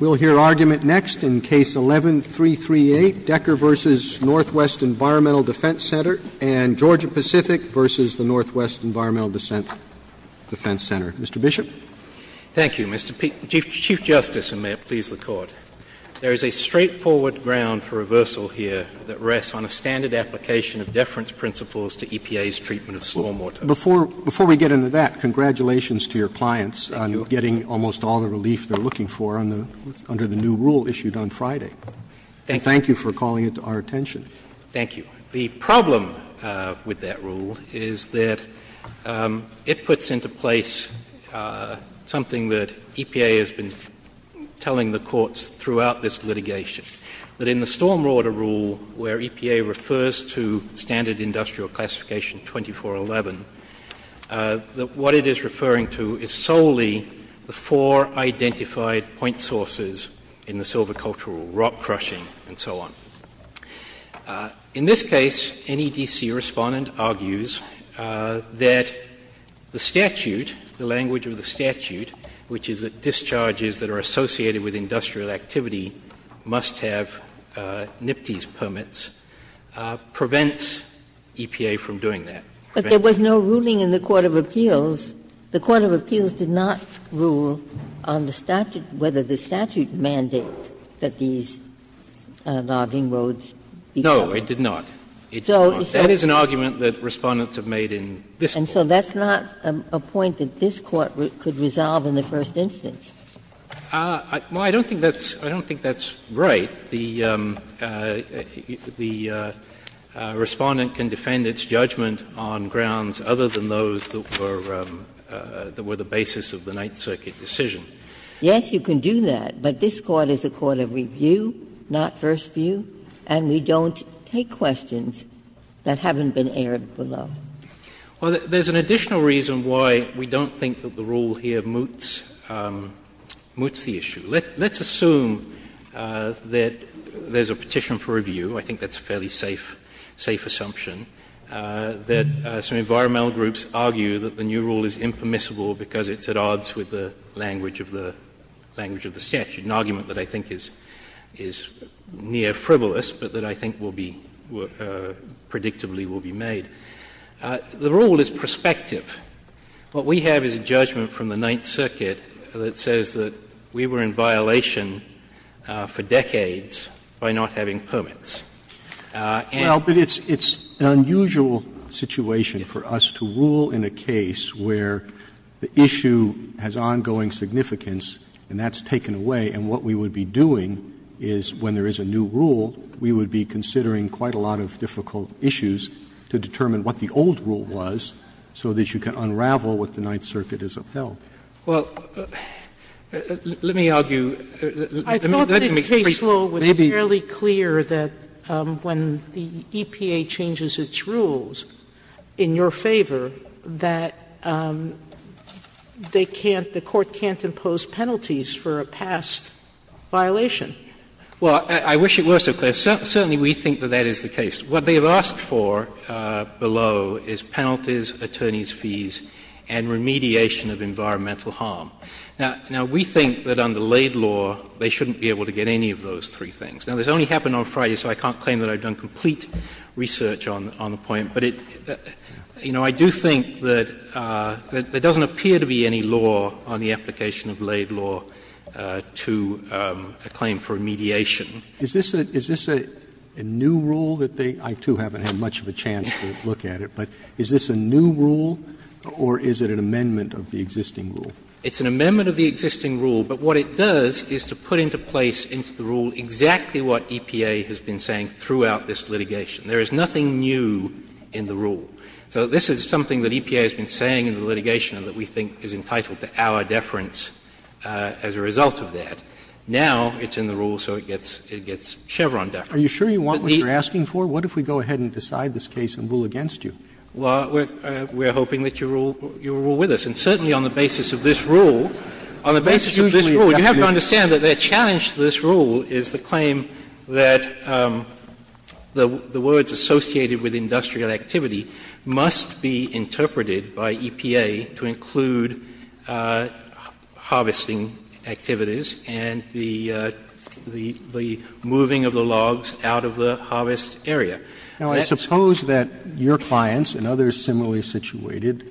We will hear argument next in Case 11-338, Decker v. Northwest Environmental Defense Center, and Georgia-Pacific v. Northwest Environmental Defense Center. Mr. Bishop. Thank you, Mr. Chief Justice, and may it please the Court. There is a straightforward ground for reversal here that rests on a standard application of deference principles to EPA's treatment of slawmortar. But before we get into that, congratulations to your clients on getting almost all the relief they're looking for under the new rule issued on Friday. Thank you for calling it to our attention. Thank you. The problem with that rule is that it puts into place something that EPA has been telling the courts throughout this litigation, that in the stormwater rule where EPA refers to standard industrial classification 2411, that what it is referring to is solely the four identified point sources in the silver cultural rule, rock crushing and so on. In this case, any D.C. respondent argues that the statute, the language of the statute, which is that discharges that are associated with industrial activity must have NIPTES permits, prevents EPA from doing that. But there was no ruling in the court of appeals. The court of appeals did not rule on the statute, whether the statute mandates that these logging roads be covered. No, it did not. It did not. That is an argument that Respondents have made in this Court. And so that's not a point that this Court could resolve in the first instance. Well, I don't think that's right. The Respondent can defend its judgment on grounds other than those that were the basis of the Ninth Circuit decision. Yes, you can do that, but this Court is a court of review, not first view, and we don't take questions that haven't been aired below. Well, there's an additional reason why we don't think that the rule here moots the issue. Let's assume that there's a petition for review. I think that's a fairly safe assumption, that some environmental groups argue that the new rule is impermissible because it's at odds with the language of the statute, an argument that I think is near frivolous, but that I think will be — predictably will be made. The rule is prospective. What we have is a judgment from the Ninth Circuit that says that we were in violation for decades by not having permits. And— Roberts, it's an unusual situation for us to rule in a case where the issue has ongoing significance, and that's taken away, and what we would be doing is, when there is a new rule, we would be considering quite a lot of difficult issues to determine what the old rule was so that you can unravel what the Ninth Circuit has upheld. Well, let me argue. Maybe. Sotomayor, I thought that Case Law was fairly clear that when the EPA changes its rules in your favor that they can't — the Court can't impose penalties for a past violation. Well, I wish it were so clear. Certainly we think that that is the case. What they have asked for below is penalties, attorneys' fees, and remediation of environmental harm. Now, we think that under Laid Law, they shouldn't be able to get any of those three things. Now, this only happened on Friday, so I can't claim that I've done complete research on the point, but it — you know, I do think that there doesn't appear to be any law on the application of Laid Law to a claim for a mediation. Is this a — is this a new rule that they — I, too, haven't had much of a chance to look at it, but is this a new rule, or is it an amendment of the existing rule? It's an amendment of the existing rule, but what it does is to put into place into the rule exactly what EPA has been saying throughout this litigation. There is nothing new in the rule. So this is something that EPA has been saying in the litigation that we think is entitled to our deference as a result of that. Now it's in the rule, so it gets Chevron deference. But the — Are you sure you want what you're asking for? What if we go ahead and decide this case and rule against you? Well, we're hoping that you rule with us. And certainly on the basis of this rule, on the basis of this rule, you have to understand that their challenge to this rule is the claim that the words associated with industrial production of that activity must be interpreted by EPA to include harvesting activities and the — the moving of the logs out of the harvest area. Now, I suppose that your clients and others similarly situated,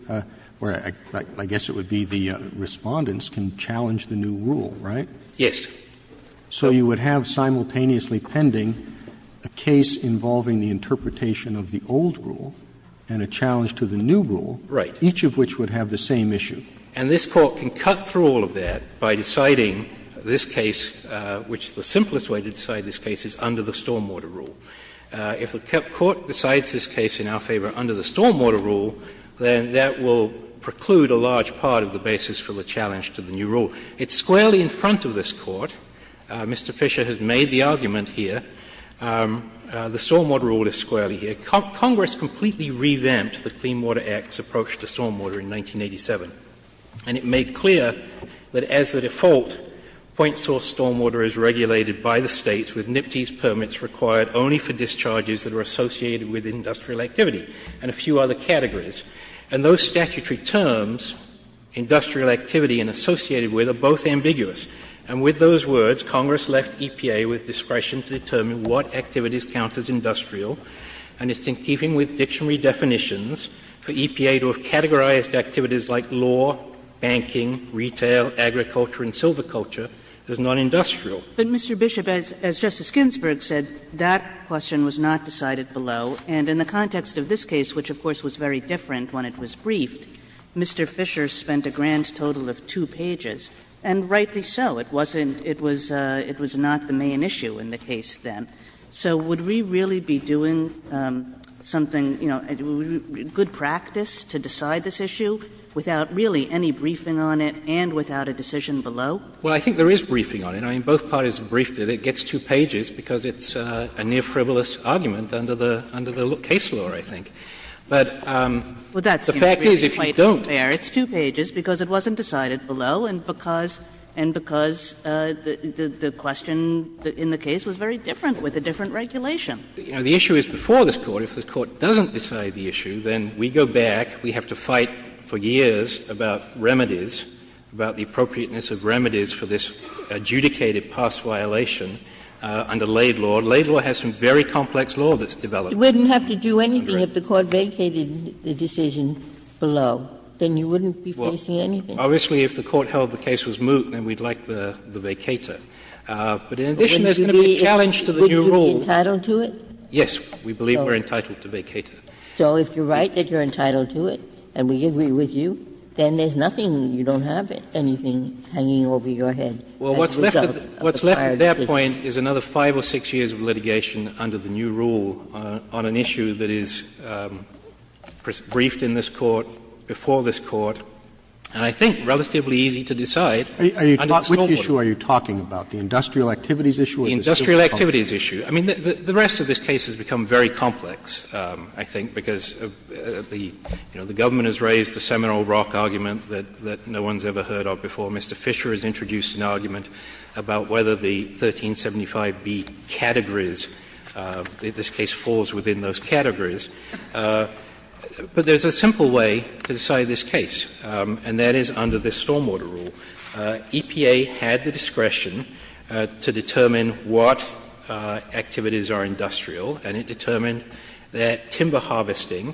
or I guess it would be the Respondents, can challenge the new rule, right? Yes. But the question is, if the Court decides this case in our favor under the stormwater rule, then that will preclude a large part of the basis for the challenge to the new rule. It's squarely in front of this Court. Mr. Fisher has made the argument here. It can't be under the stormwater rule. Congress completely revamped the Clean Water Act's approach to stormwater in 1987. And it made clear that as the default, point source stormwater is regulated by the States with NIPTES permits required only for discharges that are associated with industrial activity and a few other categories. And those statutory terms, industrial activity and associated with, are both ambiguous. And with those words, Congress left EPA with discretion to determine what activities count as industrial, and it's in keeping with dictionary definitions for EPA to have categorized activities like law, banking, retail, agriculture, and silviculture as nonindustrial. But, Mr. Bishop, as Justice Ginsburg said, that question was not decided below. And in the context of this case, which of course was very different when it was briefed, Mr. Fisher spent a grand total of two pages, and rightly so. It wasn't — it was not the main issue in the case then. So would we really be doing something, you know, good practice to decide this issue without really any briefing on it and without a decision below? Well, I think there is briefing on it. I mean, both parties briefed it. It gets two pages because it's a near-frivolous argument under the case law, I think. But the fact is, if you don't— Well, that seems to be quite fair. It's two pages because it wasn't decided below and because the question in the case was very different with a different regulation. The issue is before this Court, if the Court doesn't decide the issue, then we go back, we have to fight for years about remedies, about the appropriateness of remedies for this adjudicated past violation under Laid Law. Laid Law has some very complex law that's developed. You wouldn't have to do anything if the Court vacated the decision below. Then you wouldn't be facing anything. Obviously, if the Court held the case was moot, then we'd like the vacator. But in addition, there's going to be a choice. The challenge to the new rule is that if you're entitled to it, then you have to vacate If you're entitled to it, then there's nothing you don't have, anything hanging over your head as a result of the prior decision. Well, what's left at that point is another 5 or 6 years of litigation under the new rule on an issue that is briefed in this Court, before this Court, and I think relatively easy to decide under the scope of the new rule. issue? The industrial activities issue. I mean, the rest of this case has become very complex, I think, because the Government has raised the Seminole Rock argument that no one's ever heard of before. Mr. Fisher has introduced an argument about whether the 1375B categories, this case falls within those categories. But there's a simple way to decide this case, and that is under this stormwater rule, EPA had the discretion to determine what activities are industrial, and it determined that timber harvesting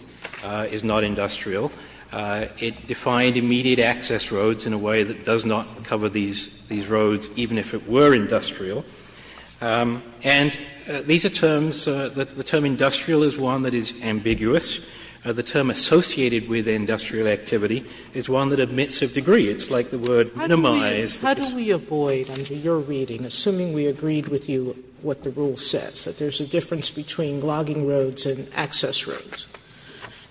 is not industrial. It defined immediate access roads in a way that does not cover these roads, even if it were industrial. And these are terms, the term industrial is one that is ambiguous. The term associated with industrial activity is one that admits of degree. It's like the word minimize. Sotomayor, how do we avoid, under your reading, assuming we agreed with you what the rule says, that there's a difference between logging roads and access roads?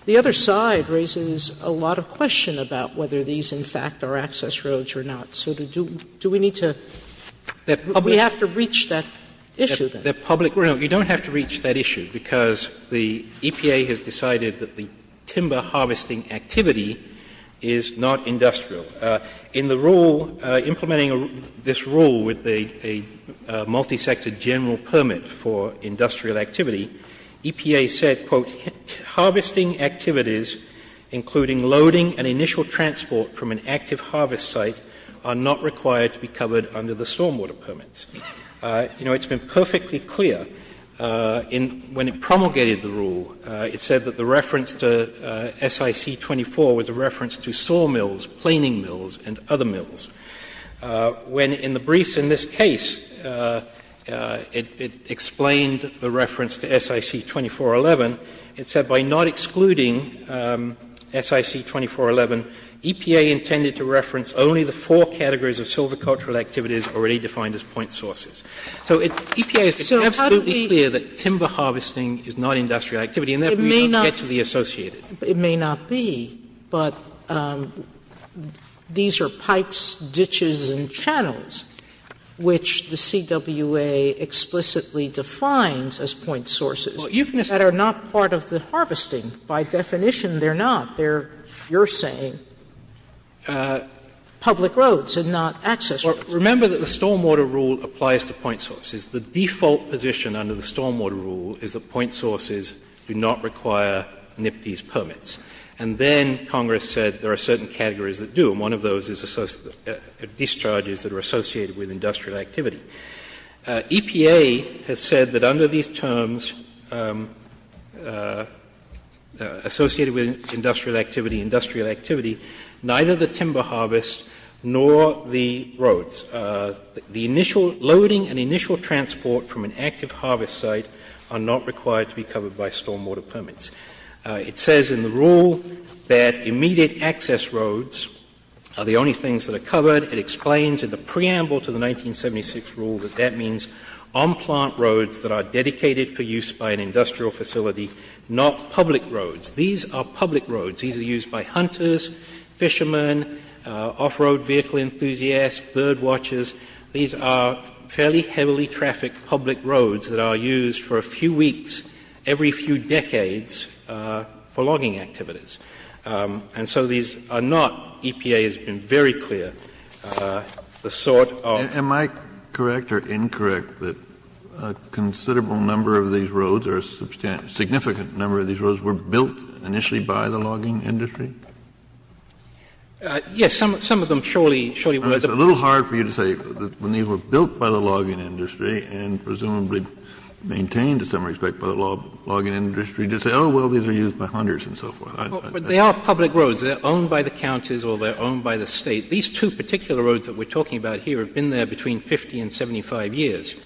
The other side raises a lot of question about whether these, in fact, are access roads or not. So do we need to do we have to reach that issue? The public rule, you don't have to reach that issue, because the EPA has decided that the timber harvesting activity is not industrial. In the rule, implementing this rule with a multi-sector general permit for industrial activity, EPA said, quote, harvesting activities, including loading and initial transport from an active harvest site, are not required to be covered under the stormwater permits. You know, it's been perfectly clear in when it promulgated the rule, it said that the reference to SIC 24 was a reference to sawmills, planing mills, and other mills. When in the briefs in this case, it explained the reference to SIC 2411, it said by not excluding SIC 2411, EPA intended to reference only the four categories of silvicultural activities already defined as point sources. So EPA has been absolutely clear that timber harvesting is not industrial activity and therefore not catchily associated. Sotomayor It may not be, but these are pipes, ditches, and channels, which the CWA explicitly defines as point sources that are not part of the harvesting. By definition, they're not. They're, you're saying, public roads and not access roads. Remember that the stormwater rule applies to point sources. The default position under the stormwater rule is that point sources do not require NPDES permits. And then Congress said there are certain categories that do, and one of those is discharges that are associated with industrial activity. EPA has said that under these terms, associated with industrial activity, industrial activity, neither the timber harvest nor the roads, the initial loading and initial transport from an active harvest site are not required to be covered by stormwater permits. It says in the rule that immediate access roads are the only things that are covered. It explains in the preamble to the 1976 rule that that means on-plant roads that are dedicated for use by an industrial facility, not public roads. These are public roads. These are used by hunters, fishermen, off-road vehicle enthusiasts, bird watchers. These are fairly heavily trafficked public roads that are used for a few weeks every few decades for logging activities. And so these are not, EPA has been very clear, the sort of ---- Kennedy, am I correct or incorrect that a considerable number of these roads, or a significant number of these roads, were built initially by the logging industry? Yes, some of them surely, surely were. It's a little hard for you to say when these were built by the logging industry and presumably maintained in some respect by the logging industry to say, oh, well, these are used by hunters and so forth. But they are public roads. They're owned by the counties or they're owned by the State. These two particular roads that we're talking about here have been there between 50 and 75 years.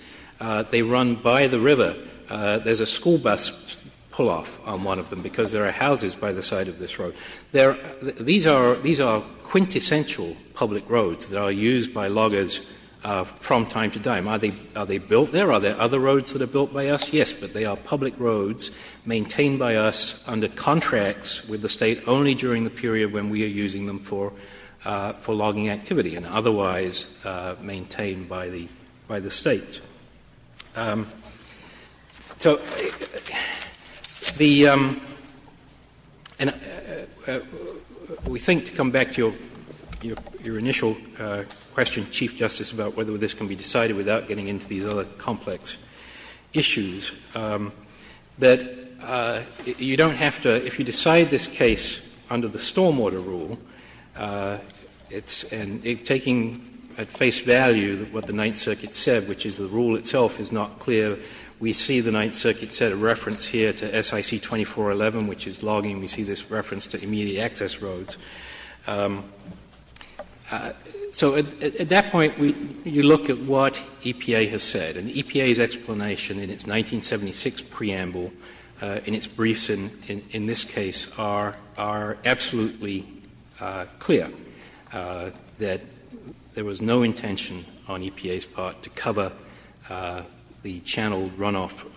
They run by the river. There's a school bus pull-off on one of them because there are houses by the side of this road. These are quintessential public roads that are used by loggers from time to time. Are they built there? Are there other roads that are built by us? Yes, but they are public roads maintained by us under contracts with the State only during the period when we are using them for logging activity and otherwise maintained by the State. So the — and we think, to come back to your initial question, Chief Justice, about whether this can be decided without getting into these other complex issues, that you don't have to — if you decide this case under the stormwater rule, it's — and taking at face value what the Ninth Circuit said, which is the rule itself is not clear, we see the Ninth Circuit set a reference here to SIC 2411, which is logging. We see this reference to immediate access roads. So at that point, we — you look at what EPA has said, and EPA's explanation in its no intention on EPA's part to cover the channeled runoff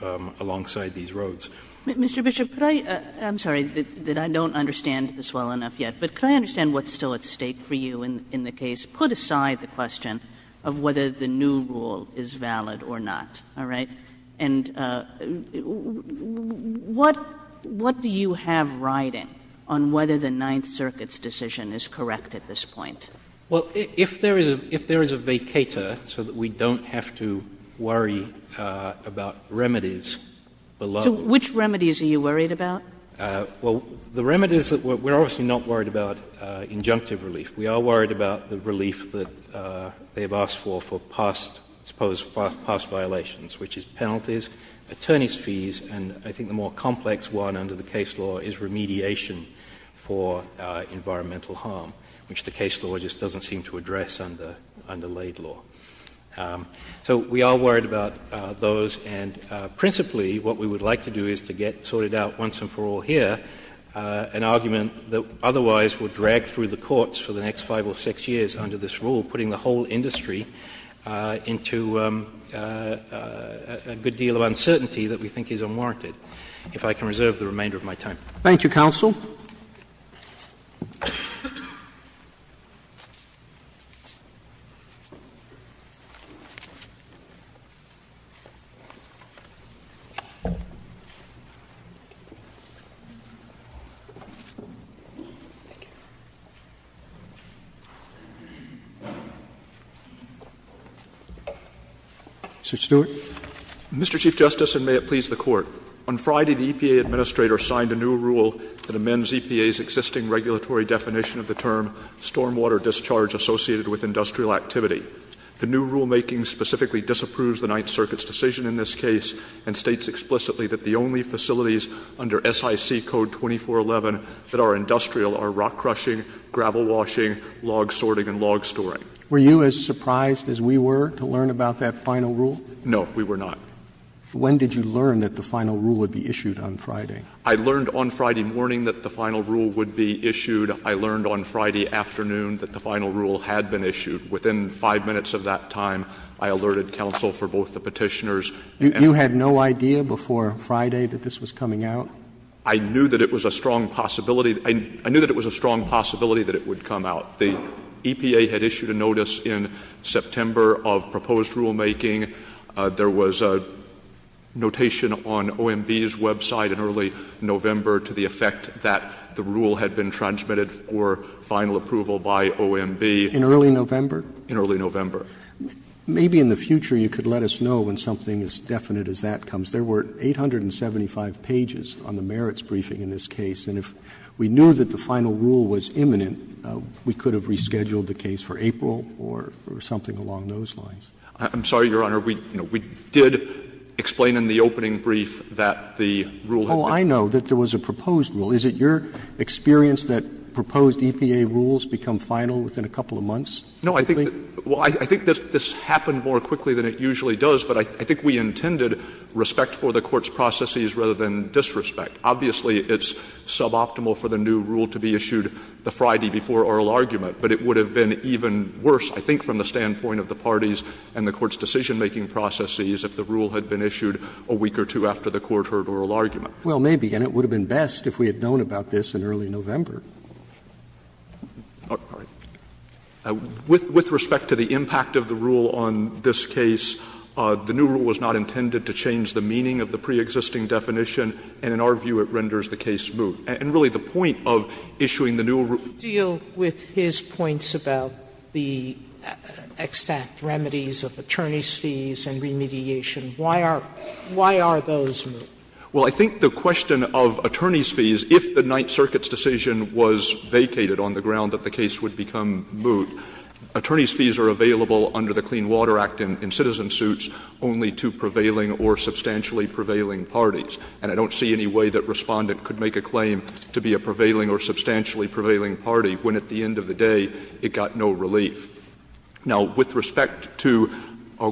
alongside these roads. Kagan Mr. Bishop, could I — I'm sorry that I don't understand this well enough yet, but could I understand what's still at stake for you in the case, put aside the question of whether the new rule is valid or not, all right? And what — what do you have riding on whether the Ninth Circuit's decision is correct at this point? Mr. Bishop Well, if there is a — if there is a vacator so that we don't have to worry about remedies below — Kagan So which remedies are you worried about? Mr. Bishop Well, the remedies that — we're obviously not worried about injunctive relief. We are worried about the relief that they've asked for for past — supposed past violations, which is penalties, attorneys' fees, and I think the more complex one under the case law is remediation for environmental harm, which the case law just doesn't seem to address under — under laid law. So we are worried about those, and principally what we would like to do is to get sorted out once and for all here an argument that otherwise would drag through the courts for the next five or six years under this rule, putting the whole industry into a good deal of uncertainty that we think is unwarranted, if I can reserve the remainder of my time. Mr. Stewart Mr. Chief Justice, and may it please the Court, on Friday the EPA Administrator signed a new rule that amends EPA's existing regulatory definition of the term stormwater discharge associated with industrial activity. The new rulemaking specifically disapproves the Ninth Circuit's decision in this case and states explicitly that the only facilities under SIC Code 2411 that are industrial are rock crushing, gravel washing, log sorting, and log storing. Mr. Kagan Were you as surprised as we were to learn about that final rule? Mr. Stewart No, we were not. Mr. Kagan When did you learn that the final rule would be issued on Friday? Mr. Stewart I learned on Friday morning that the final rule would be issued. I learned on Friday afternoon that the final rule had been issued. Within five minutes of that time, I alerted counsel for both the Petitioners and — Mr. Kagan You had no idea before Friday that this was coming out? Mr. Stewart I knew that it was a strong possibility — I knew that it was a strong possibility that it would come out. The EPA had issued a notice in September of proposed rulemaking. There was a notation on OMB's website in early November to the effect that the rule had been transmitted for final approval by OMB. Mr. Kagan In early November? Mr. Stewart In early November. Mr. Kagan Maybe in the future you could let us know when something as definite as that comes. There were 875 pages on the merits briefing in this case, and if we knew that the final rule was imminent, we could have rescheduled the case for April or something along those lines. Mr. Stewart I'm sorry, Your Honor. We did explain in the opening brief that the rule had been issued. Roberts Oh, I know that there was a proposed rule. Is it your experience that proposed EPA rules become final within a couple of months? Mr. Stewart No, I think — well, I think this happened more quickly than it usually does, but I think we intended respect for the Court's processes rather than disrespect. Obviously, it's suboptimal for the new rule to be issued the Friday before oral argument, but it would have been even worse, I think, from the standpoint of the parties and the Court's decision-making processes if the rule had been issued a week or two after the Court heard oral argument. Roberts Well, maybe, and it would have been best if we had known about this in early November. Mr. Stewart All right. With respect to the impact of the rule on this case, the new rule was not intended to change the meaning of the preexisting definition, and in our view it renders the case smooth. And really the point of issuing the new rule— Sotomayor With his points about the extant remedies of attorney's fees and remediation, why are those moot? Mr. Stewart Well, I think the question of attorney's fees, if the Ninth Circuit's decision was vacated on the ground that the case would become moot, attorney's fees are available under the Clean Water Act in citizen suits only to prevailing or substantially prevailing parties. And I don't see any way that Respondent could make a claim to be a prevailing or substantially prevailing party when at the end of the day it got no relief. Now, with respect to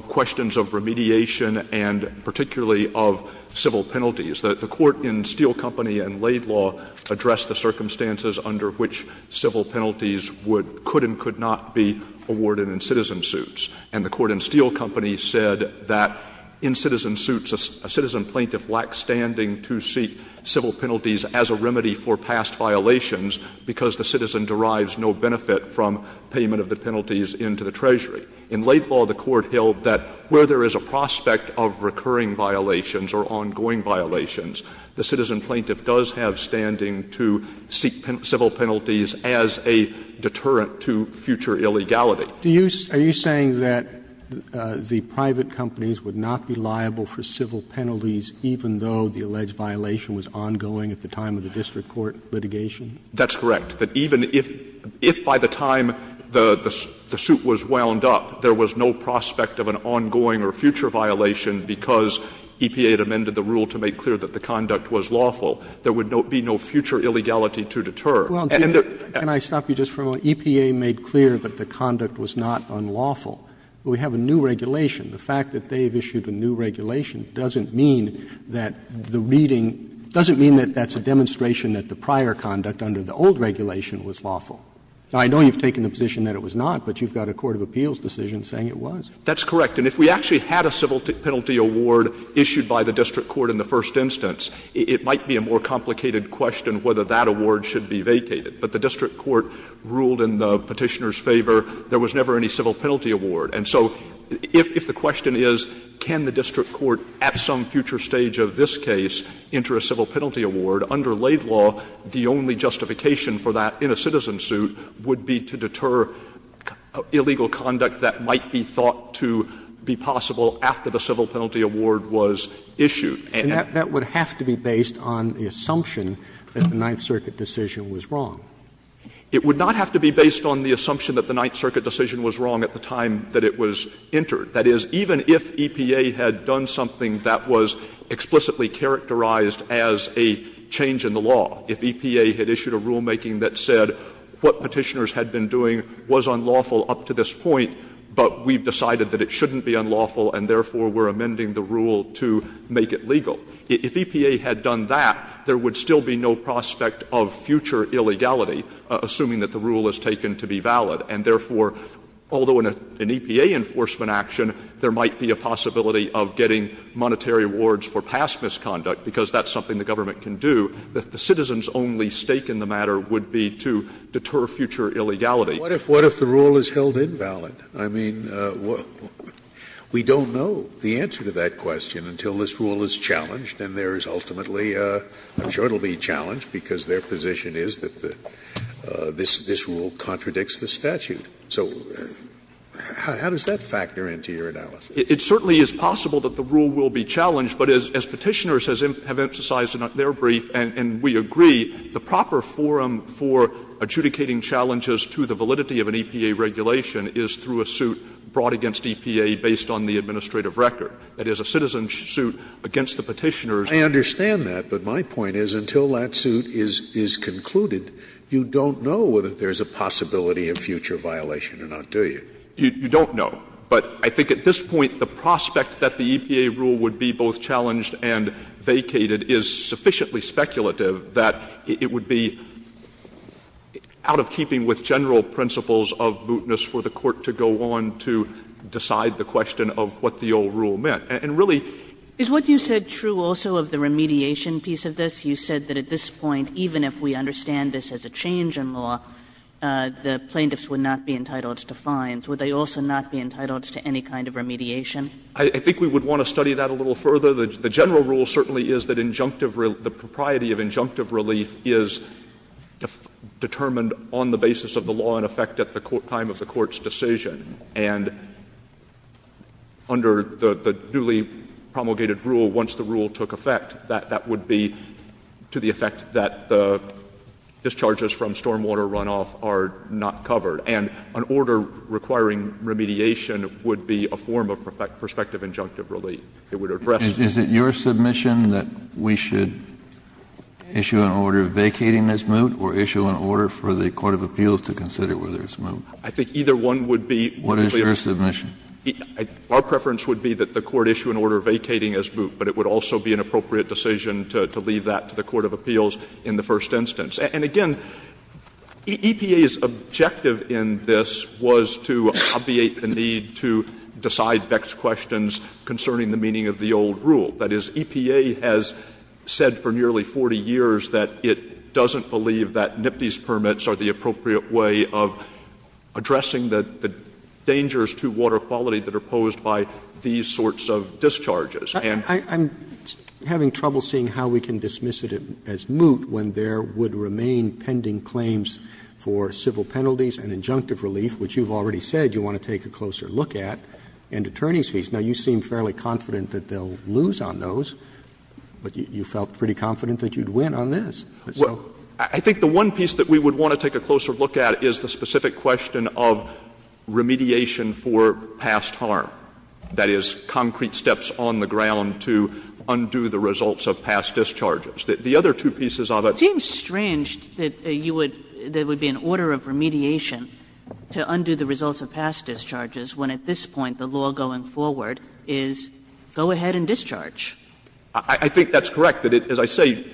questions of remediation and particularly of civil penalties, the Court in Steel Company and Laid Law addressed the circumstances under which civil penalties would — could and could not be awarded in citizen suits. And the Court in Steel Company said that in citizen suits, a citizen plaintiff lacks standing to seek civil penalties as a remedy for past violations because the citizen derives no benefit from payment of the penalties into the treasury. In Laid Law, the Court held that where there is a prospect of recurring violations or ongoing violations, the citizen plaintiff does have standing to seek civil penalties as a deterrent to future illegality. Robertson Do you — are you saying that the private companies would not be liable for civil penalties even though the alleged violation was ongoing at the time of the district court litigation? Stewart That's correct. That even if — if by the time the — the suit was wound up, there was no prospect of an ongoing or future violation because EPA had amended the rule to make clear that the conduct was lawful, there would be no future illegality to deter. Robertson Well, can I stop you just for a moment? EPA made clear that the conduct was not unlawful. We have a new regulation. The fact that they have issued a new regulation doesn't mean that the reading — doesn't mean that that's a demonstration that the prior conduct under the old regulation was lawful. Now, I know you've taken the position that it was not, but you've got a court of appeals decision saying it was. Stewart That's correct. And if we actually had a civil penalty award issued by the district court in the first instance, it might be a more complicated question whether that award should be vacated. But the district court ruled in the Petitioner's favor there was never any civil penalty award. And so if the question is, can the district court at some future stage of this case enter a civil penalty award, under Laid Law, the only justification for that in a citizen suit would be to deter illegal conduct that might be thought to be possible after the civil penalty award was issued. And that would have to be based on the assumption that the Ninth Circuit decision was wrong. Stewart It would not have to be based on the assumption that the Ninth Circuit decision was wrong at the time that it was entered. That is, even if EPA had done something that was explicitly characterized as a change in the law, if EPA had issued a rulemaking that said what Petitioners had been doing was unlawful up to this point, but we've decided that it shouldn't be unlawful and therefore we're amending the rule to make it legal, if EPA had done that, there would still be no prospect of future illegality, assuming that the rule is taken to be valid. And therefore, although in an EPA enforcement action there might be a possibility of getting monetary awards for past misconduct, because that's something the government can do, the citizens' only stake in the matter would be to deter future illegality. Scalia What if the rule is held invalid? I mean, we don't know the answer to that question until this rule is challenged and there is ultimately – I'm sure it will be challenged because their position is that the – this rule contradicts the statute. So how does that factor into your analysis? Stewart It certainly is possible that the rule will be challenged, but as Petitioners have emphasized in their brief, and we agree, the proper forum for adjudicating challenges to the validity of an EPA regulation is through a suit brought against EPA based on the administrative record. That is, a citizen's suit against the Petitioners. Scalia I understand that, but my point is until that suit is concluded, you don't know whether there is a possibility of future violation or not, do you? Stewart You don't know. But I think at this point the prospect that the EPA rule would be both challenged and vacated is sufficiently speculative that it would be out of keeping with general principles of mootness for the Court to go on to decide the question of what the old rule meant. And really – Kagan You said true also of the remediation piece of this. You said that at this point, even if we understand this as a change in law, the plaintiffs would not be entitled to fines. Would they also not be entitled to any kind of remediation? Stewart I think we would want to study that a little further. The general rule certainly is that injunctive – the propriety of injunctive relief is determined on the basis of the law in effect at the time of the Court's decision. And under the duly promulgated rule, once the rule took effect, that would be to the effect that the discharges from stormwater runoff are not covered. And an order requiring remediation would be a form of prospective injunctive relief. It would address— Kennedy Is it your submission that we should issue an order vacating this moot or issue an order for the court of appeals to consider whether it's moot? Stewart I think either one would be— Kennedy What is your submission? Stewart Our preference would be that the court issue an order vacating as moot, but it would also be an appropriate decision to leave that to the court of appeals in the first instance. And again, EPA's objective in this was to obviate the need to decide Beck's questions concerning the meaning of the old rule. That is, EPA has said for nearly 40 years that it doesn't believe that NIPTI's addressing the dangers to water quality that are posed by these sorts of discharges. And— Roberts I'm having trouble seeing how we can dismiss it as moot when there would remain pending claims for civil penalties and injunctive relief, which you've already said you want to take a closer look at, and attorneys' fees. Now, you seem fairly confident that they'll lose on those, but you felt pretty confident that you'd win on this. Stewart Well, I think the one piece that we would want to take a closer look at is the specific question of remediation for past harm. That is, concrete steps on the ground to undo the results of past discharges. The other two pieces of it— Kagan It seems strange that you would — there would be an order of remediation to undo the results of past discharges when at this point the law going forward is go ahead and discharge. Stewart I think that's correct. As I say,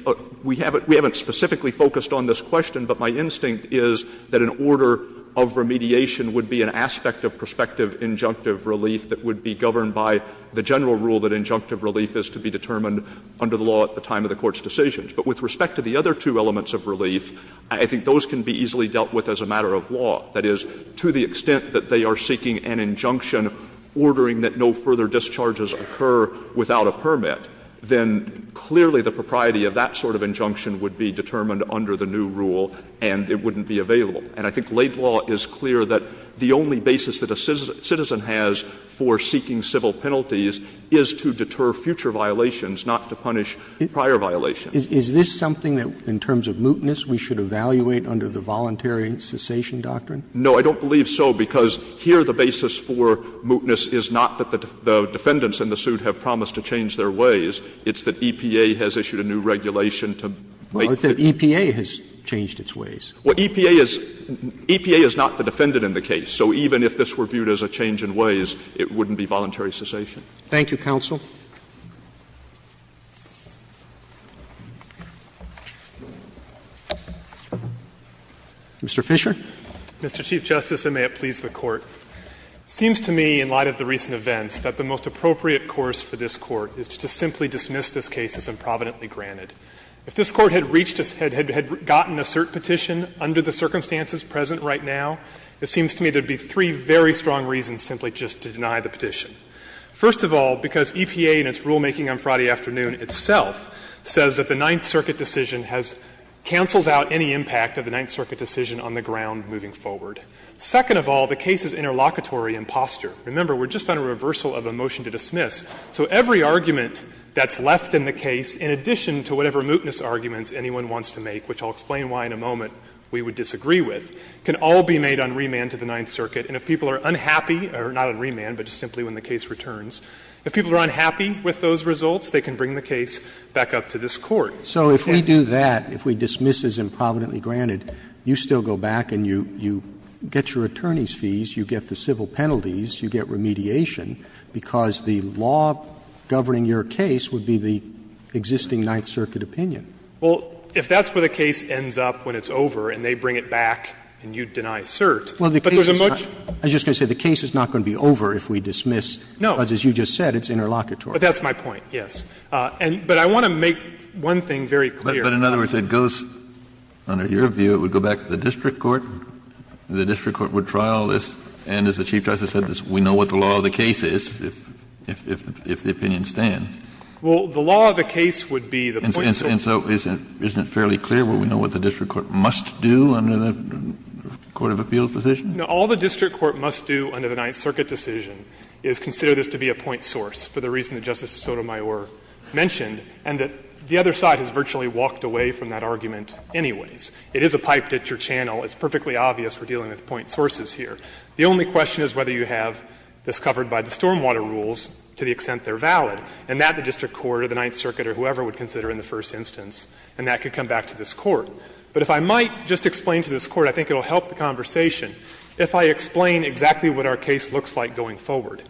we haven't specifically focused on this question, but my instinct is that an order of remediation would be an aspect of prospective injunctive relief that would be governed by the general rule that injunctive relief is to be determined under the law at the time of the Court's decisions. But with respect to the other two elements of relief, I think those can be easily dealt with as a matter of law. That is, to the extent that they are seeking an injunction ordering that no further discharges occur without a permit, then clearly the propriety of that sort of injunction would be determined under the new rule and it wouldn't be available. And I think late law is clear that the only basis that a citizen has for seeking civil penalties is to deter future violations, not to punish prior violations. Roberts Is this something that, in terms of mootness, we should evaluate under the voluntary cessation doctrine? Stewart No, I don't believe so, because here the basis for mootness is not that the defendants in the suit have promised to change their ways. It's that EPA has issued a new regulation to make the Roberts Well, I thought EPA has changed its ways. Stewart Well, EPA is not the defendant in the case. So even if this were viewed as a change in ways, it wouldn't be voluntary cessation. Roberts Thank you, counsel. Mr. Fisher. Fisher Mr. Chief Justice, and may it please the Court, it seems to me in light of the recent events that the most appropriate course for this Court is to simply dismiss this case as improvidently granted. If this Court had reached a ‑‑ had gotten a cert petition under the circumstances present right now, it seems to me there would be three very strong reasons simply just to deny the petition. First of all, because EPA in its rulemaking on Friday afternoon itself says that the Ninth Circuit decision has ‑‑ cancels out any impact of the Ninth Circuit decision on the ground moving forward. Second of all, the case is interlocutory in posture. Remember, we're just on a reversal of a motion to dismiss. So every argument that's left in the case, in addition to whatever mootness arguments anyone wants to make, which I'll explain why in a moment we would disagree with, can all be made on remand to the Ninth Circuit. And if people are unhappy ‑‑ or not on remand, but simply when the case returns ‑‑ if people are unhappy with those results, they can bring the case back up to this Court. Roberts So if we do that, if we dismiss as improvidently granted, you still go back and you get your attorney's fees, you get the civil penalties, you get remediation, because the law governing your case would be the existing Ninth Circuit opinion. Fisher Well, if that's where the case ends up when it's over and they bring it back and you deny cert, but there's a much ‑‑ Roberts I was just going to say the case is not going to be over if we dismiss. Fisher No. Roberts Because as you just said, it's interlocutory. Fisher But that's my point, yes. But I want to make one thing very clear. Kennedy But in other words, it goes, under your view, it would go back to the district court? The district court would trial this, and as the Chief Justice said, we know what the law of the case is if the opinion stands. Fisher Well, the law of the case would be the point source. Kennedy And so isn't it fairly clear where we know what the district court must do under the court of appeals decision? Fisher No. All the district court must do under the Ninth Circuit decision is consider this to be a point source, for the reason that Justice Sotomayor mentioned, and that the other side has virtually walked away from that argument anyways. It is a pipe ditch or channel. It's perfectly obvious we're dealing with point sources here. The only question is whether you have this covered by the stormwater rules to the extent they're valid, and that the district court or the Ninth Circuit or whoever would consider in the first instance, and that could come back to this Court. But if I might just explain to this Court, I think it will help the conversation, if I explain exactly what our case looks like going forward.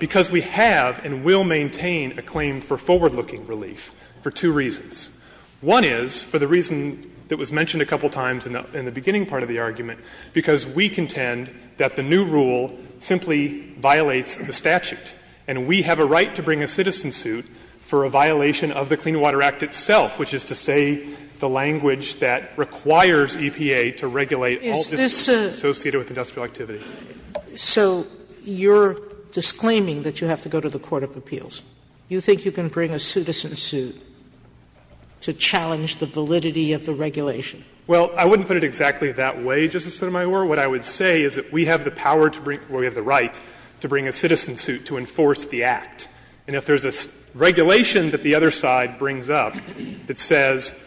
Because we have and will maintain a claim for forward-looking relief for two reasons. One is, for the reason that was mentioned a couple of times in the beginning part of the argument, because we contend that the new rule simply violates the statute. And we have a right to bring a citizen suit for a violation of the Clean Water Act itself, which is to say the language that requires EPA to regulate all district courts associated with industrial activity. Sotomayor So you're disclaiming that you have to go to the court of appeals. You think you can bring a citizen suit. To challenge the validity of the regulation. Fisher Well, I wouldn't put it exactly that way, Justice Sotomayor. What I would say is that we have the power to bring or we have the right to bring a citizen suit to enforce the Act. And if there's a regulation that the other side brings up that says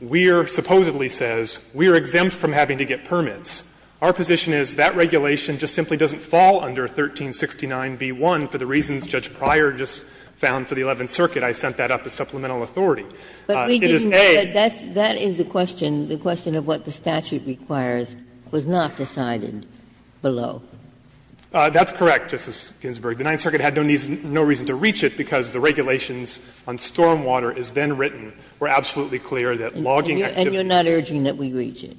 we're, supposedly says, we're exempt from having to get permits, our position is that regulation just simply doesn't fall under 1369v1 for the reasons Judge Pryor just found for the Eleventh Circuit. I sent that up as supplemental authority. It is A. Ginsburg But we didn't know that that is the question. The question of what the statute requires was not decided below. Fisher That's correct, Justice Ginsburg. The Ninth Circuit had no reason to reach it because the regulations on stormwater as then written were absolutely clear that logging activity. Ginsburg And you're not urging that we reach it. Fisher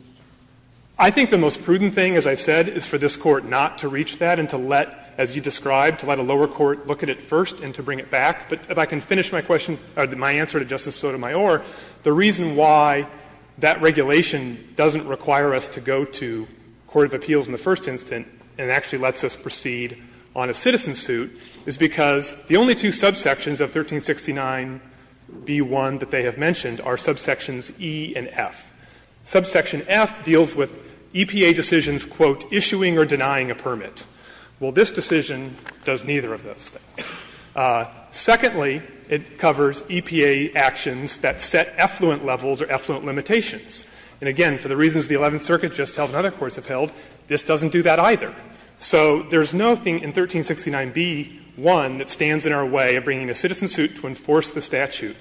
I think the most prudent thing, as I said, is for this Court not to reach that and to let, as you described, to let a lower court look at it first and to bring it back. But if I can finish my question, or my answer to Justice Sotomayor, the reason why that regulation doesn't require us to go to court of appeals in the first instant and actually lets us proceed on a citizen suit is because the only two subsections of 1369b1 that they have mentioned are subsections E and F. Subsection F deals with EPA decisions, quote, issuing or denying a permit. Well, this decision does neither of those things. Secondly, it covers EPA actions that set effluent levels or effluent limitations. And again, for the reasons the Eleventh Circuit just held and other courts have held, this doesn't do that either. So there's nothing in 1369b1 that stands in our way of bringing a citizen suit to enforce the statute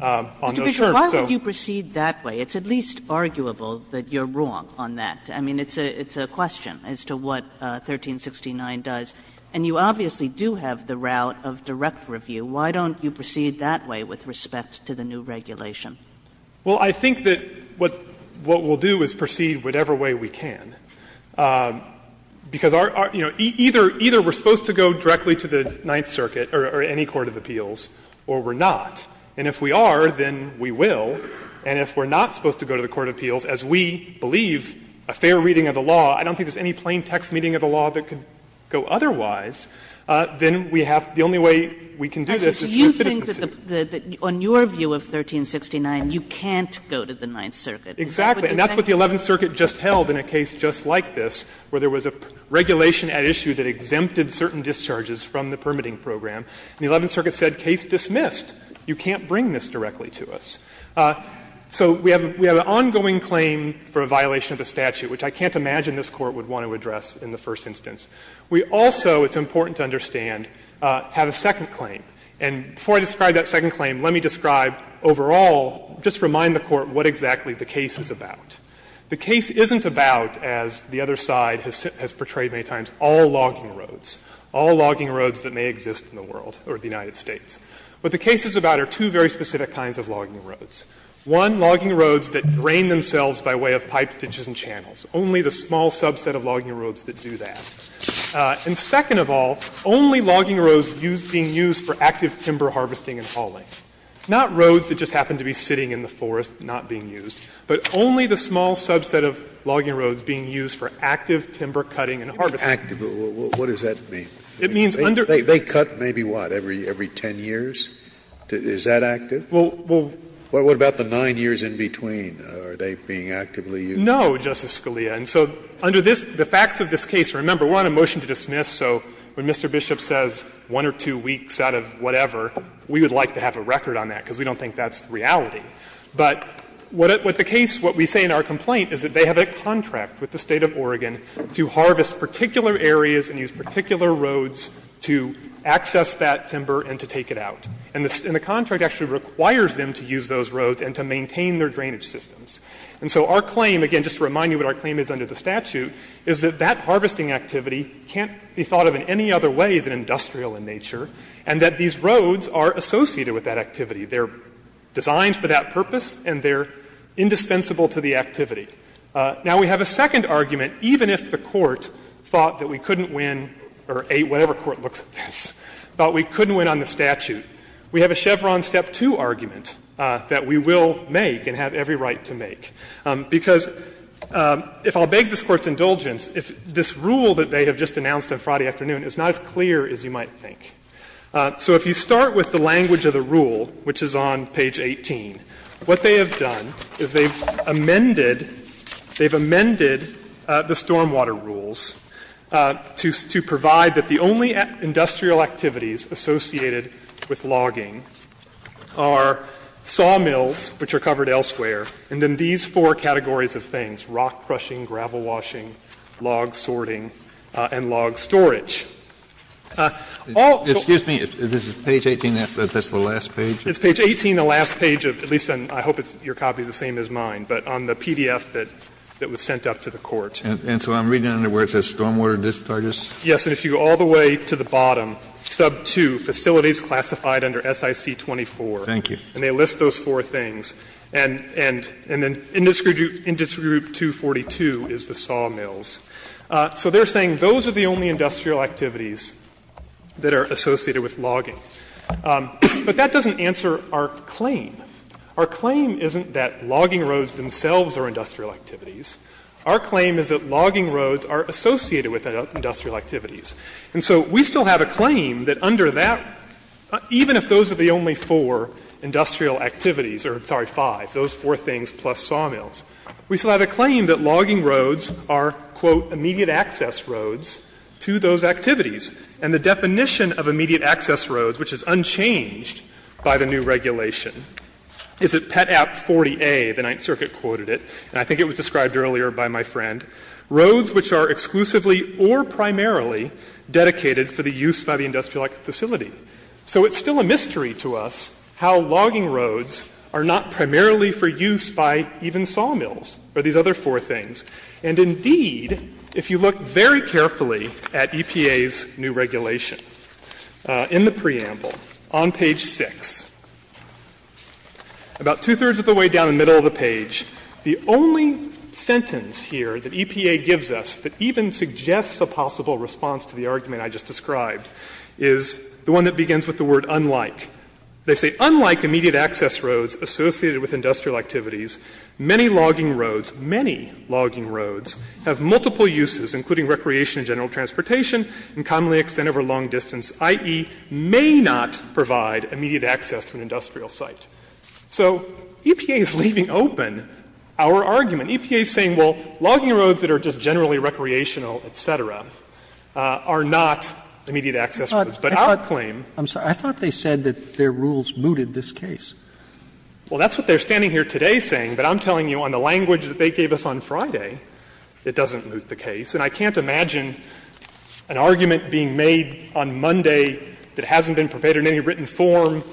on those terms. Kagan Mr. Fisher, why would you proceed that way? It's at least arguable that you're wrong on that. I mean, it's a question as to what 1369 does. And you obviously do have the route of direct review. Why don't you proceed that way with respect to the new regulation? Fisher Well, I think that what we'll do is proceed whatever way we can. Because, you know, either we're supposed to go directly to the Ninth Circuit or any court of appeals, or we're not. And if we are, then we will. And if we're not supposed to go to the court of appeals, as we believe a fair reading of the law, I don't think there's any plain text reading of the law that could go otherwise, then we have the only way we can do this is through a citizen suit. Kagan You think that on your view of 1369, you can't go to the Ninth Circuit. Fisher Exactly. And that's what the Eleventh Circuit just held in a case just like this, where there was a regulation at issue that exempted certain discharges from the permitting program. And the Eleventh Circuit said, case dismissed. You can't bring this directly to us. So we have an ongoing claim for a violation of the statute, which I can't imagine this Court would want to address in the first instance. We also, it's important to understand, have a second claim. And before I describe that second claim, let me describe overall, just remind the Court what exactly the case is about. The case isn't about, as the other side has portrayed many times, all logging roads, all logging roads that may exist in the world or the United States. What the case is about are two very specific kinds of logging roads. One, logging roads that drain themselves by way of pipes, ditches, and channels. Only the small subset of logging roads that do that. And second of all, only logging roads being used for active timber harvesting and hauling. Not roads that just happen to be sitting in the forest, not being used. But only the small subset of logging roads being used for active timber cutting and harvesting. Scalia What does that mean? Fisher It means under Scalia They cut maybe what? Every 10 years? Is that active? Fisher Well, well Scalia What about the nine years in between? Are they being actively used? Fisher No, Justice Scalia. And so under this, the facts of this case, remember, we're on a motion to dismiss. So when Mr. Bishop says one or two weeks out of whatever, we would like to have a record on that, because we don't think that's the reality. But what the case, what we say in our complaint is that they have a contract with the State of Oregon to harvest particular areas and use particular roads to access that timber and to take it out. And the contract actually requires them to use those roads and to maintain their drainage systems. And so our claim, again, just to remind you what our claim is under the statute, is that that harvesting activity can't be thought of in any other way than industrial in nature, and that these roads are associated with that activity. They're designed for that purpose, and they're indispensable to the activity. Now, we have a second argument, even if the Court thought that we couldn't win, or whatever court looks at this, thought we couldn't win on the statute. We have a Chevron Step 2 argument that we will make and have every right to make. Because if I'll beg this Court's indulgence, if this rule that they have just announced on Friday afternoon is not as clear as you might think. So if you start with the language of the rule, which is on page 18, what they have done is they've amended, they've amended the stormwater rules to provide that the only industrial activities associated with logging are sawmills, which are covered elsewhere, and then these four categories of things, rock crushing, gravel washing, log sorting, and log storage. Kennedy, this is page 18, that's the last page? It's page 18, the last page of, at least I hope your copy is the same as mine, but on the PDF that was sent up to the Court. And so I'm reading under where it says stormwater discharges? Yes. And if you go all the way to the bottom, sub 2, facilities classified under SIC 24. Thank you. And they list those four things. And then industry group 242 is the sawmills. So they're saying those are the only industrial activities that are associated with logging. But that doesn't answer our claim. Our claim isn't that logging roads themselves are industrial activities. Our claim is that logging roads are associated with industrial activities. And so we still have a claim that under that, even if those are the only four industrial activities, or sorry, five, those four things plus sawmills, we still have a claim that logging roads are, quote, immediate access roads to those activities. And the definition of immediate access roads, which is unchanged by the new regulation, is at Pet App 40A, the Ninth Circuit quoted it, and I think it was described earlier by my friend, roads which are exclusively or primarily dedicated for the use by the industrial facility. So it's still a mystery to us how logging roads are not primarily for use by even sawmills or these other four things. And indeed, if you look very carefully at EPA's new regulation, in the preamble, on page 6, about two-thirds of the way down the middle of the page, the only sentence here that EPA gives us that even suggests a possible response to the argument I just described is the one that begins with the word unlike. They say, unlike immediate access roads associated with industrial activities, many logging roads, many logging roads, have multiple uses, including recreation and general transportation, and commonly extend over long distance, i.e., may not provide immediate access to an industrial site. So EPA is leaving open our argument. EPA is saying, well, logging roads that are just generally recreational, et cetera, are not immediate access roads. But our claim -- Robertson, I'm sorry. I thought they said that their rules mooted this case. Well, that's what they're standing here today saying. But I'm telling you on the language that they gave us on Friday, it doesn't moot the case. And I can't imagine an argument being made on Monday that hasn't been prepared in any written form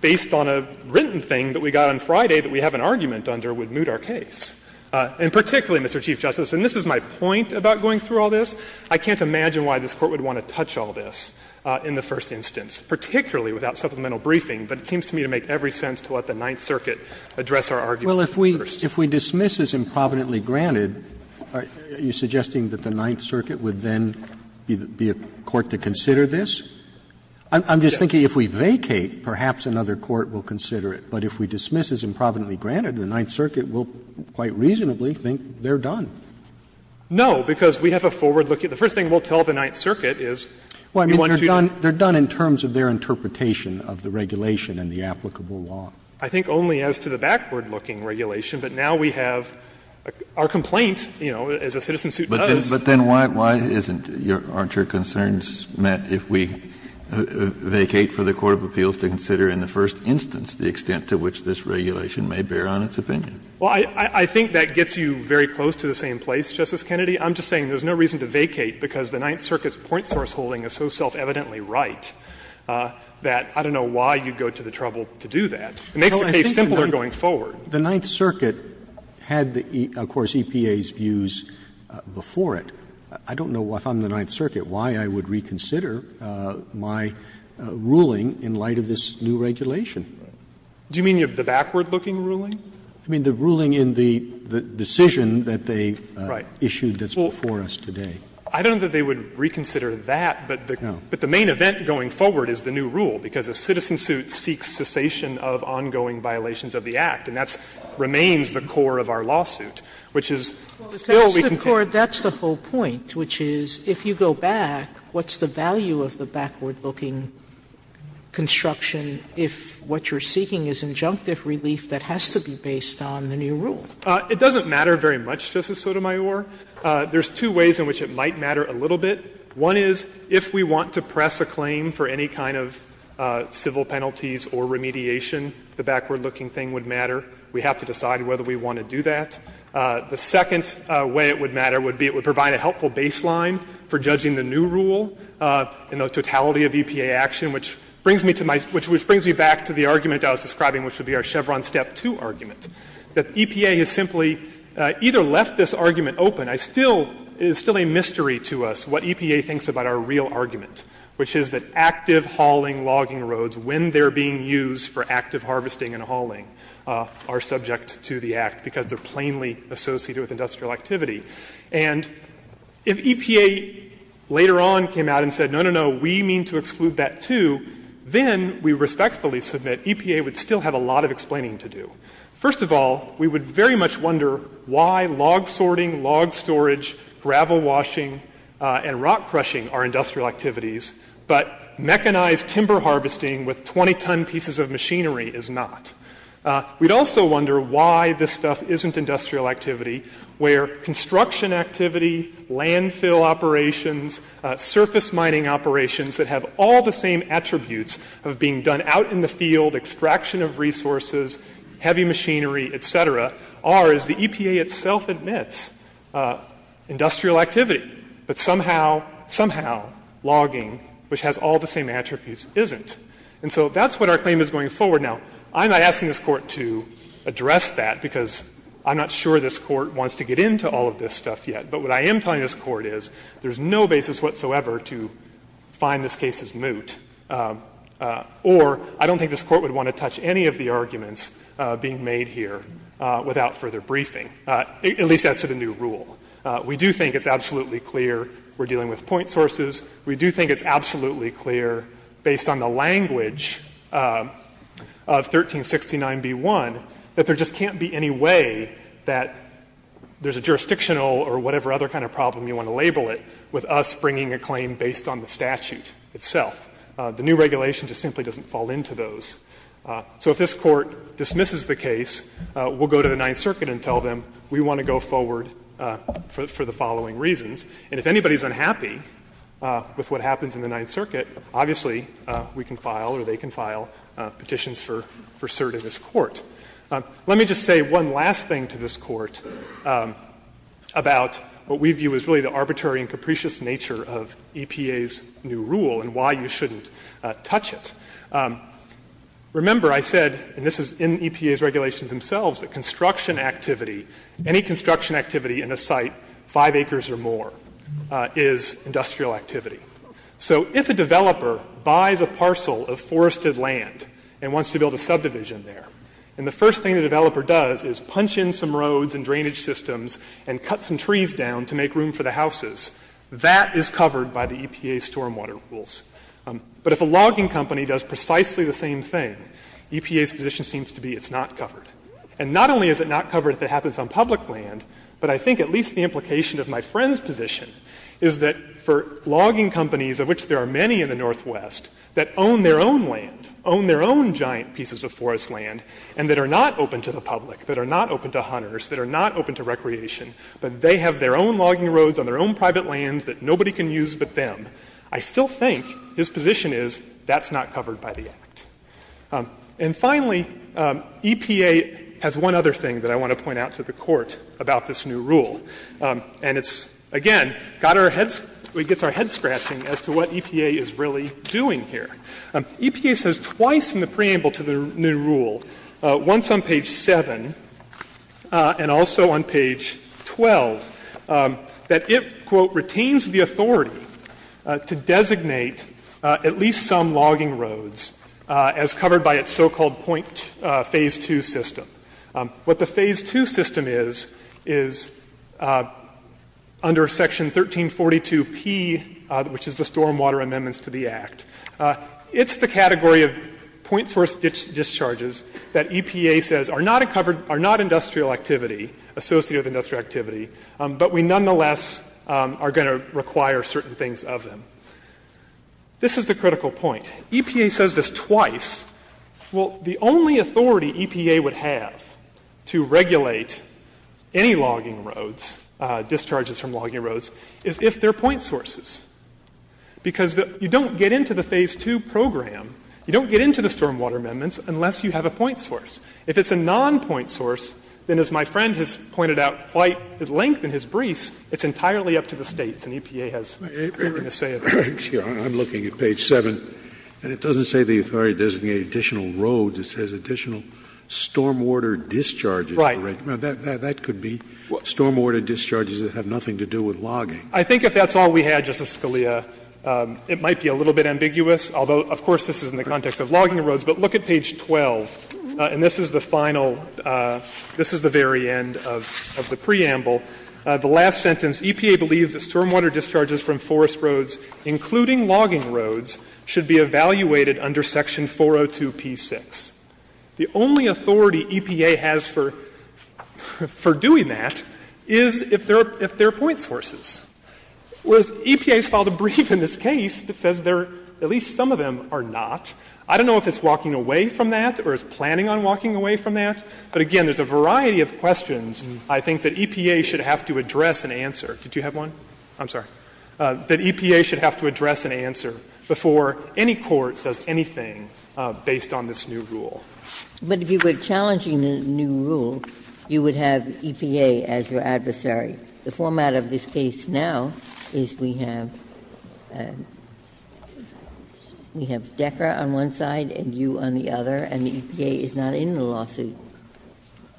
based on a written thing that we got on Friday that we have an argument under would moot our case. And particularly, Mr. Chief Justice, and this is my point about going through all this, I can't imagine why this Court would want to touch all this in the first instance, particularly without supplemental briefing. But it seems to me to make every sense to let the Ninth Circuit address our argument first. Well, if we dismiss as improvidently granted, are you suggesting that the Ninth Circuit would then be a court to consider this? I'm just thinking if we vacate, perhaps another court will consider it. But if we dismiss as improvidently granted, the Ninth Circuit will quite reasonably think they're done. No, because we have a forward-looking the first thing we'll tell the Ninth Circuit is we want to do it. Well, I mean, they're done in terms of their interpretation of the regulation and the applicable law. I think only as to the backward-looking regulation. But now we have our complaint, you know, as a citizen suit does. But then why isn't your concerns met if we vacate for the court of appeals to consider in the first instance the extent to which this regulation may bear on its opinion? Well, I think that gets you very close to the same place, Justice Kennedy. I'm just saying there's no reason to vacate because the Ninth Circuit's point source holding is so self-evidently right that I don't know why you'd go to the trouble to do that. It makes the case simpler going forward. The Ninth Circuit had, of course, EPA's views before it. I don't know if I'm the Ninth Circuit why I would reconsider my ruling in light of this new regulation. Do you mean the backward-looking ruling? I mean the ruling in the decision that they issued that's before us today. I don't know that they would reconsider that, but the main event going forward is the new rule, because a citizen suit seeks cessation of ongoing violations of the Act, and that remains the core of our lawsuit, which is still we can take. Sotomayor, that's the whole point, which is, if you go back, what's the value of the backward-looking construction if what you're seeking is injunctive relief that has to be based on the new rule? It doesn't matter very much, Justice Sotomayor. There's two ways in which it might matter a little bit. One is, if we want to press a claim for any kind of civil penalties or remediation, the backward-looking thing would matter. We have to decide whether we want to do that. The second way it would matter would be it would provide a helpful baseline for judging the new rule in the totality of EPA action, which brings me to my — which brings me back to the argument I was describing, which would be our Chevron Step 2 argument, that EPA has simply either left this argument open. I still — it is still a mystery to us what EPA thinks about our real argument, which is that active hauling, logging roads, when they're being used for active harvesting and hauling, are subject to the Act because they're plainly associated with industrial activity. And if EPA later on came out and said, no, no, no, we mean to exclude that, too, then we respectfully submit EPA would still have a lot of explaining to do. First of all, we would very much wonder why log sorting, log storage, gravel washing and rock crushing are industrial activities, but mechanized timber harvesting with 20-ton pieces of machinery is not. We'd also wonder why this stuff isn't industrial activity, where construction activity, landfill operations, surface mining operations that have all the same attributes, heavy machinery, et cetera, are, as the EPA itself admits, industrial activity. But somehow, somehow, logging, which has all the same attributes, isn't. And so that's what our claim is going forward. Now, I'm not asking this Court to address that because I'm not sure this Court wants to get into all of this stuff yet. But what I am telling this Court is there's no basis whatsoever to find this case is moot. Or I don't think this Court would want to touch any of the arguments being made here without further briefing, at least as to the new rule. We do think it's absolutely clear we're dealing with point sources. We do think it's absolutely clear, based on the language of 1369b1, that there just can't be any way that there's a jurisdictional or whatever other kind of problem you want to label it with us bringing a claim based on the statute itself. The new regulation just simply doesn't fall into those. So if this Court dismisses the case, we'll go to the Ninth Circuit and tell them, we want to go forward for the following reasons. And if anybody's unhappy with what happens in the Ninth Circuit, obviously, we can file or they can file petitions for cert in this Court. Let me just say one last thing to this Court about what we view as really the arbitrary and capricious nature of EPA's new rule and why you shouldn't touch it. Remember, I said, and this is in EPA's regulations themselves, that construction activity, any construction activity in a site 5 acres or more is industrial activity. So if a developer buys a parcel of forested land and wants to build a subdivision in there, and the first thing the developer does is punch in some roads and drainage systems and cut some trees down to make room for the houses, that is covered by the EPA's stormwater rules. But if a logging company does precisely the same thing, EPA's position seems to be it's not covered. And not only is it not covered if it happens on public land, but I think at least the implication of my friend's position is that for logging companies, of which there are many in the Northwest, that own their own land, own their own giant pieces of forest land, and that are not open to the public, that are not open to hunters, that are not open to recreation, but they have their own logging roads on their own private lands that nobody can use but them, I still think his position is that's not covered by the Act. And finally, EPA has one other thing that I want to point out to the Court about this new rule. And it's, again, got our heads — gets our heads scratching as to what EPA is really doing here. EPA says twice in the preamble to the new rule, once on page 7 and also on page 12, that it, quote, ''retains the authority to designate at least some logging roads as covered by its so-called point phase 2 system.'' What the phase 2 system is, is under section 1342P, which is the stormwater amendments to the Act, it's the category of point source discharges that EPA says are not covered — are not industrial activity, associated with industrial activity, but we, nonetheless, are going to require certain things of them. This is the critical point. EPA says this twice. Well, the only authority EPA would have to regulate any logging roads, discharges from logging roads, is if they're point sources, because you don't get into the phase 2 program, you don't get into the stormwater amendments unless you have a point source. If it's a non-point source, then as my friend has pointed out quite at length in his briefs, it's entirely up to the States, and EPA has nothing to say about that. Scalia, I'm looking at page 7, and it doesn't say the authority designated additional roads. It says additional stormwater discharges. Right. Now, that could be stormwater discharges that have nothing to do with logging. I think if that's all we had, Justice Scalia, it might be a little bit ambiguous, although, of course, this is in the context of logging roads. But look at page 12, and this is the final — this is the very end of the preamble. The last sentence, EPA believes that stormwater discharges from forest roads, including logging roads, should be evaluated under section 402p6. The only authority EPA has for doing that is if they're point sources. Whereas, EPA has filed a brief in this case that says there are at least some of them are not. I don't know if it's walking away from that or is planning on walking away from that. But again, there's a variety of questions I think that EPA should have to address and answer. Did you have one? I'm sorry. That EPA should have to address and answer before any court does anything based on this new rule. Ginsburg. But if you were challenging the new rule, you would have EPA as your adversary. The format of this case now is we have — we have Decker on one side and you on the other, and the EPA is not in the lawsuit.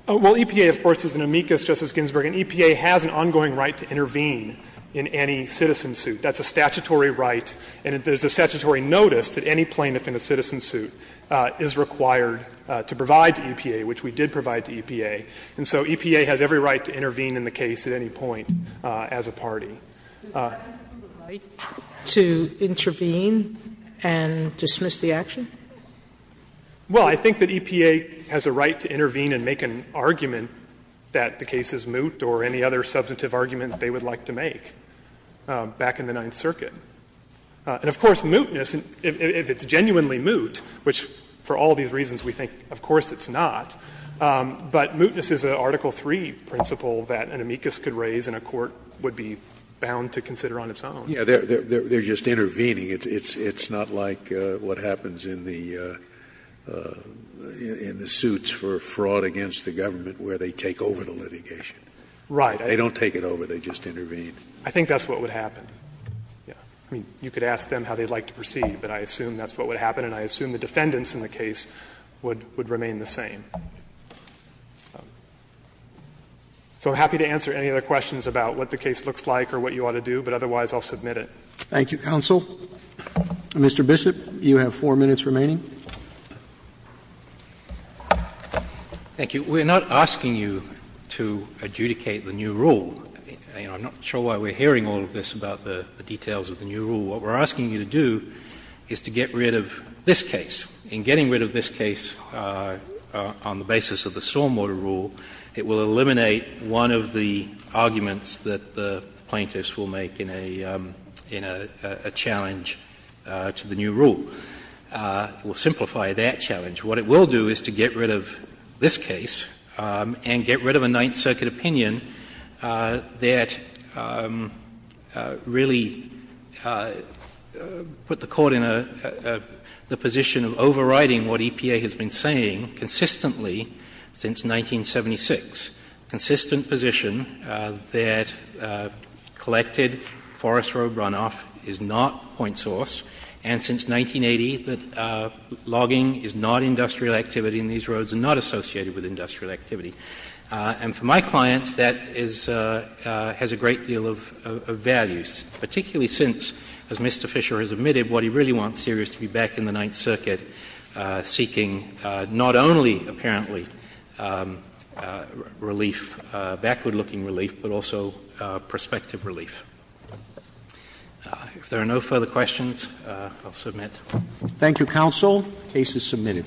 Well, EPA, of course, is an amicus, Justice Ginsburg, and EPA has an ongoing right to intervene in any citizen suit. That's a statutory right, and there's a statutory notice that any plaintiff in a citizen suit is required to provide to EPA, which we did provide to EPA. And so EPA has every right to intervene in the case at any point as a party. Does EPA have the right to intervene and dismiss the action? Well, I think that EPA has a right to intervene and make an argument that the case is moot or any other substantive argument they would like to make back in the Ninth Circuit. And of course, mootness, if it's genuinely moot, which for all these reasons we think, of course it's not, but mootness is an Article III principle that an amicus could raise and a court would be bound to consider on its own. Scalia, they're just intervening. It's not like what happens in the suits for fraud against the government where they take over the litigation. Right. They don't take it over, they just intervene. I think that's what would happen, yes. I mean, you could ask them how they'd like to proceed, but I assume that's what would happen, and I assume the defendants in the case would remain the same. So I'm happy to answer any other questions about what the case looks like or what you ought to do, but otherwise I'll submit it. Thank you, counsel. Mr. Bishop, you have 4 minutes remaining. Thank you. We're not asking you to adjudicate the new rule. I'm not sure why we're hearing all of this about the details of the new rule. What we're asking you to do is to get rid of this case. In getting rid of this case on the basis of the stormwater rule, it will eliminate one of the arguments that the plaintiffs will make in a challenge to the new rule. It will simplify that challenge. What it will do is to get rid of this case and get rid of a Ninth Circuit opinion that really put the Court in a position of overriding what EPA has been saying consistently since 1976, consistent position that collected forest road runoff is not point source, and since 1980 that logging is not industrial activity and these roads are not associated with industrial activity. And for my clients, that is — has a great deal of value, particularly since, as Mr. Fisher has admitted, what he really wants here is to be back in the Ninth Circuit seeking not only, apparently, relief, backward-looking relief, but also prospective relief. If there are no further questions, I'll submit. Roberts. Thank you, counsel. The case is submitted.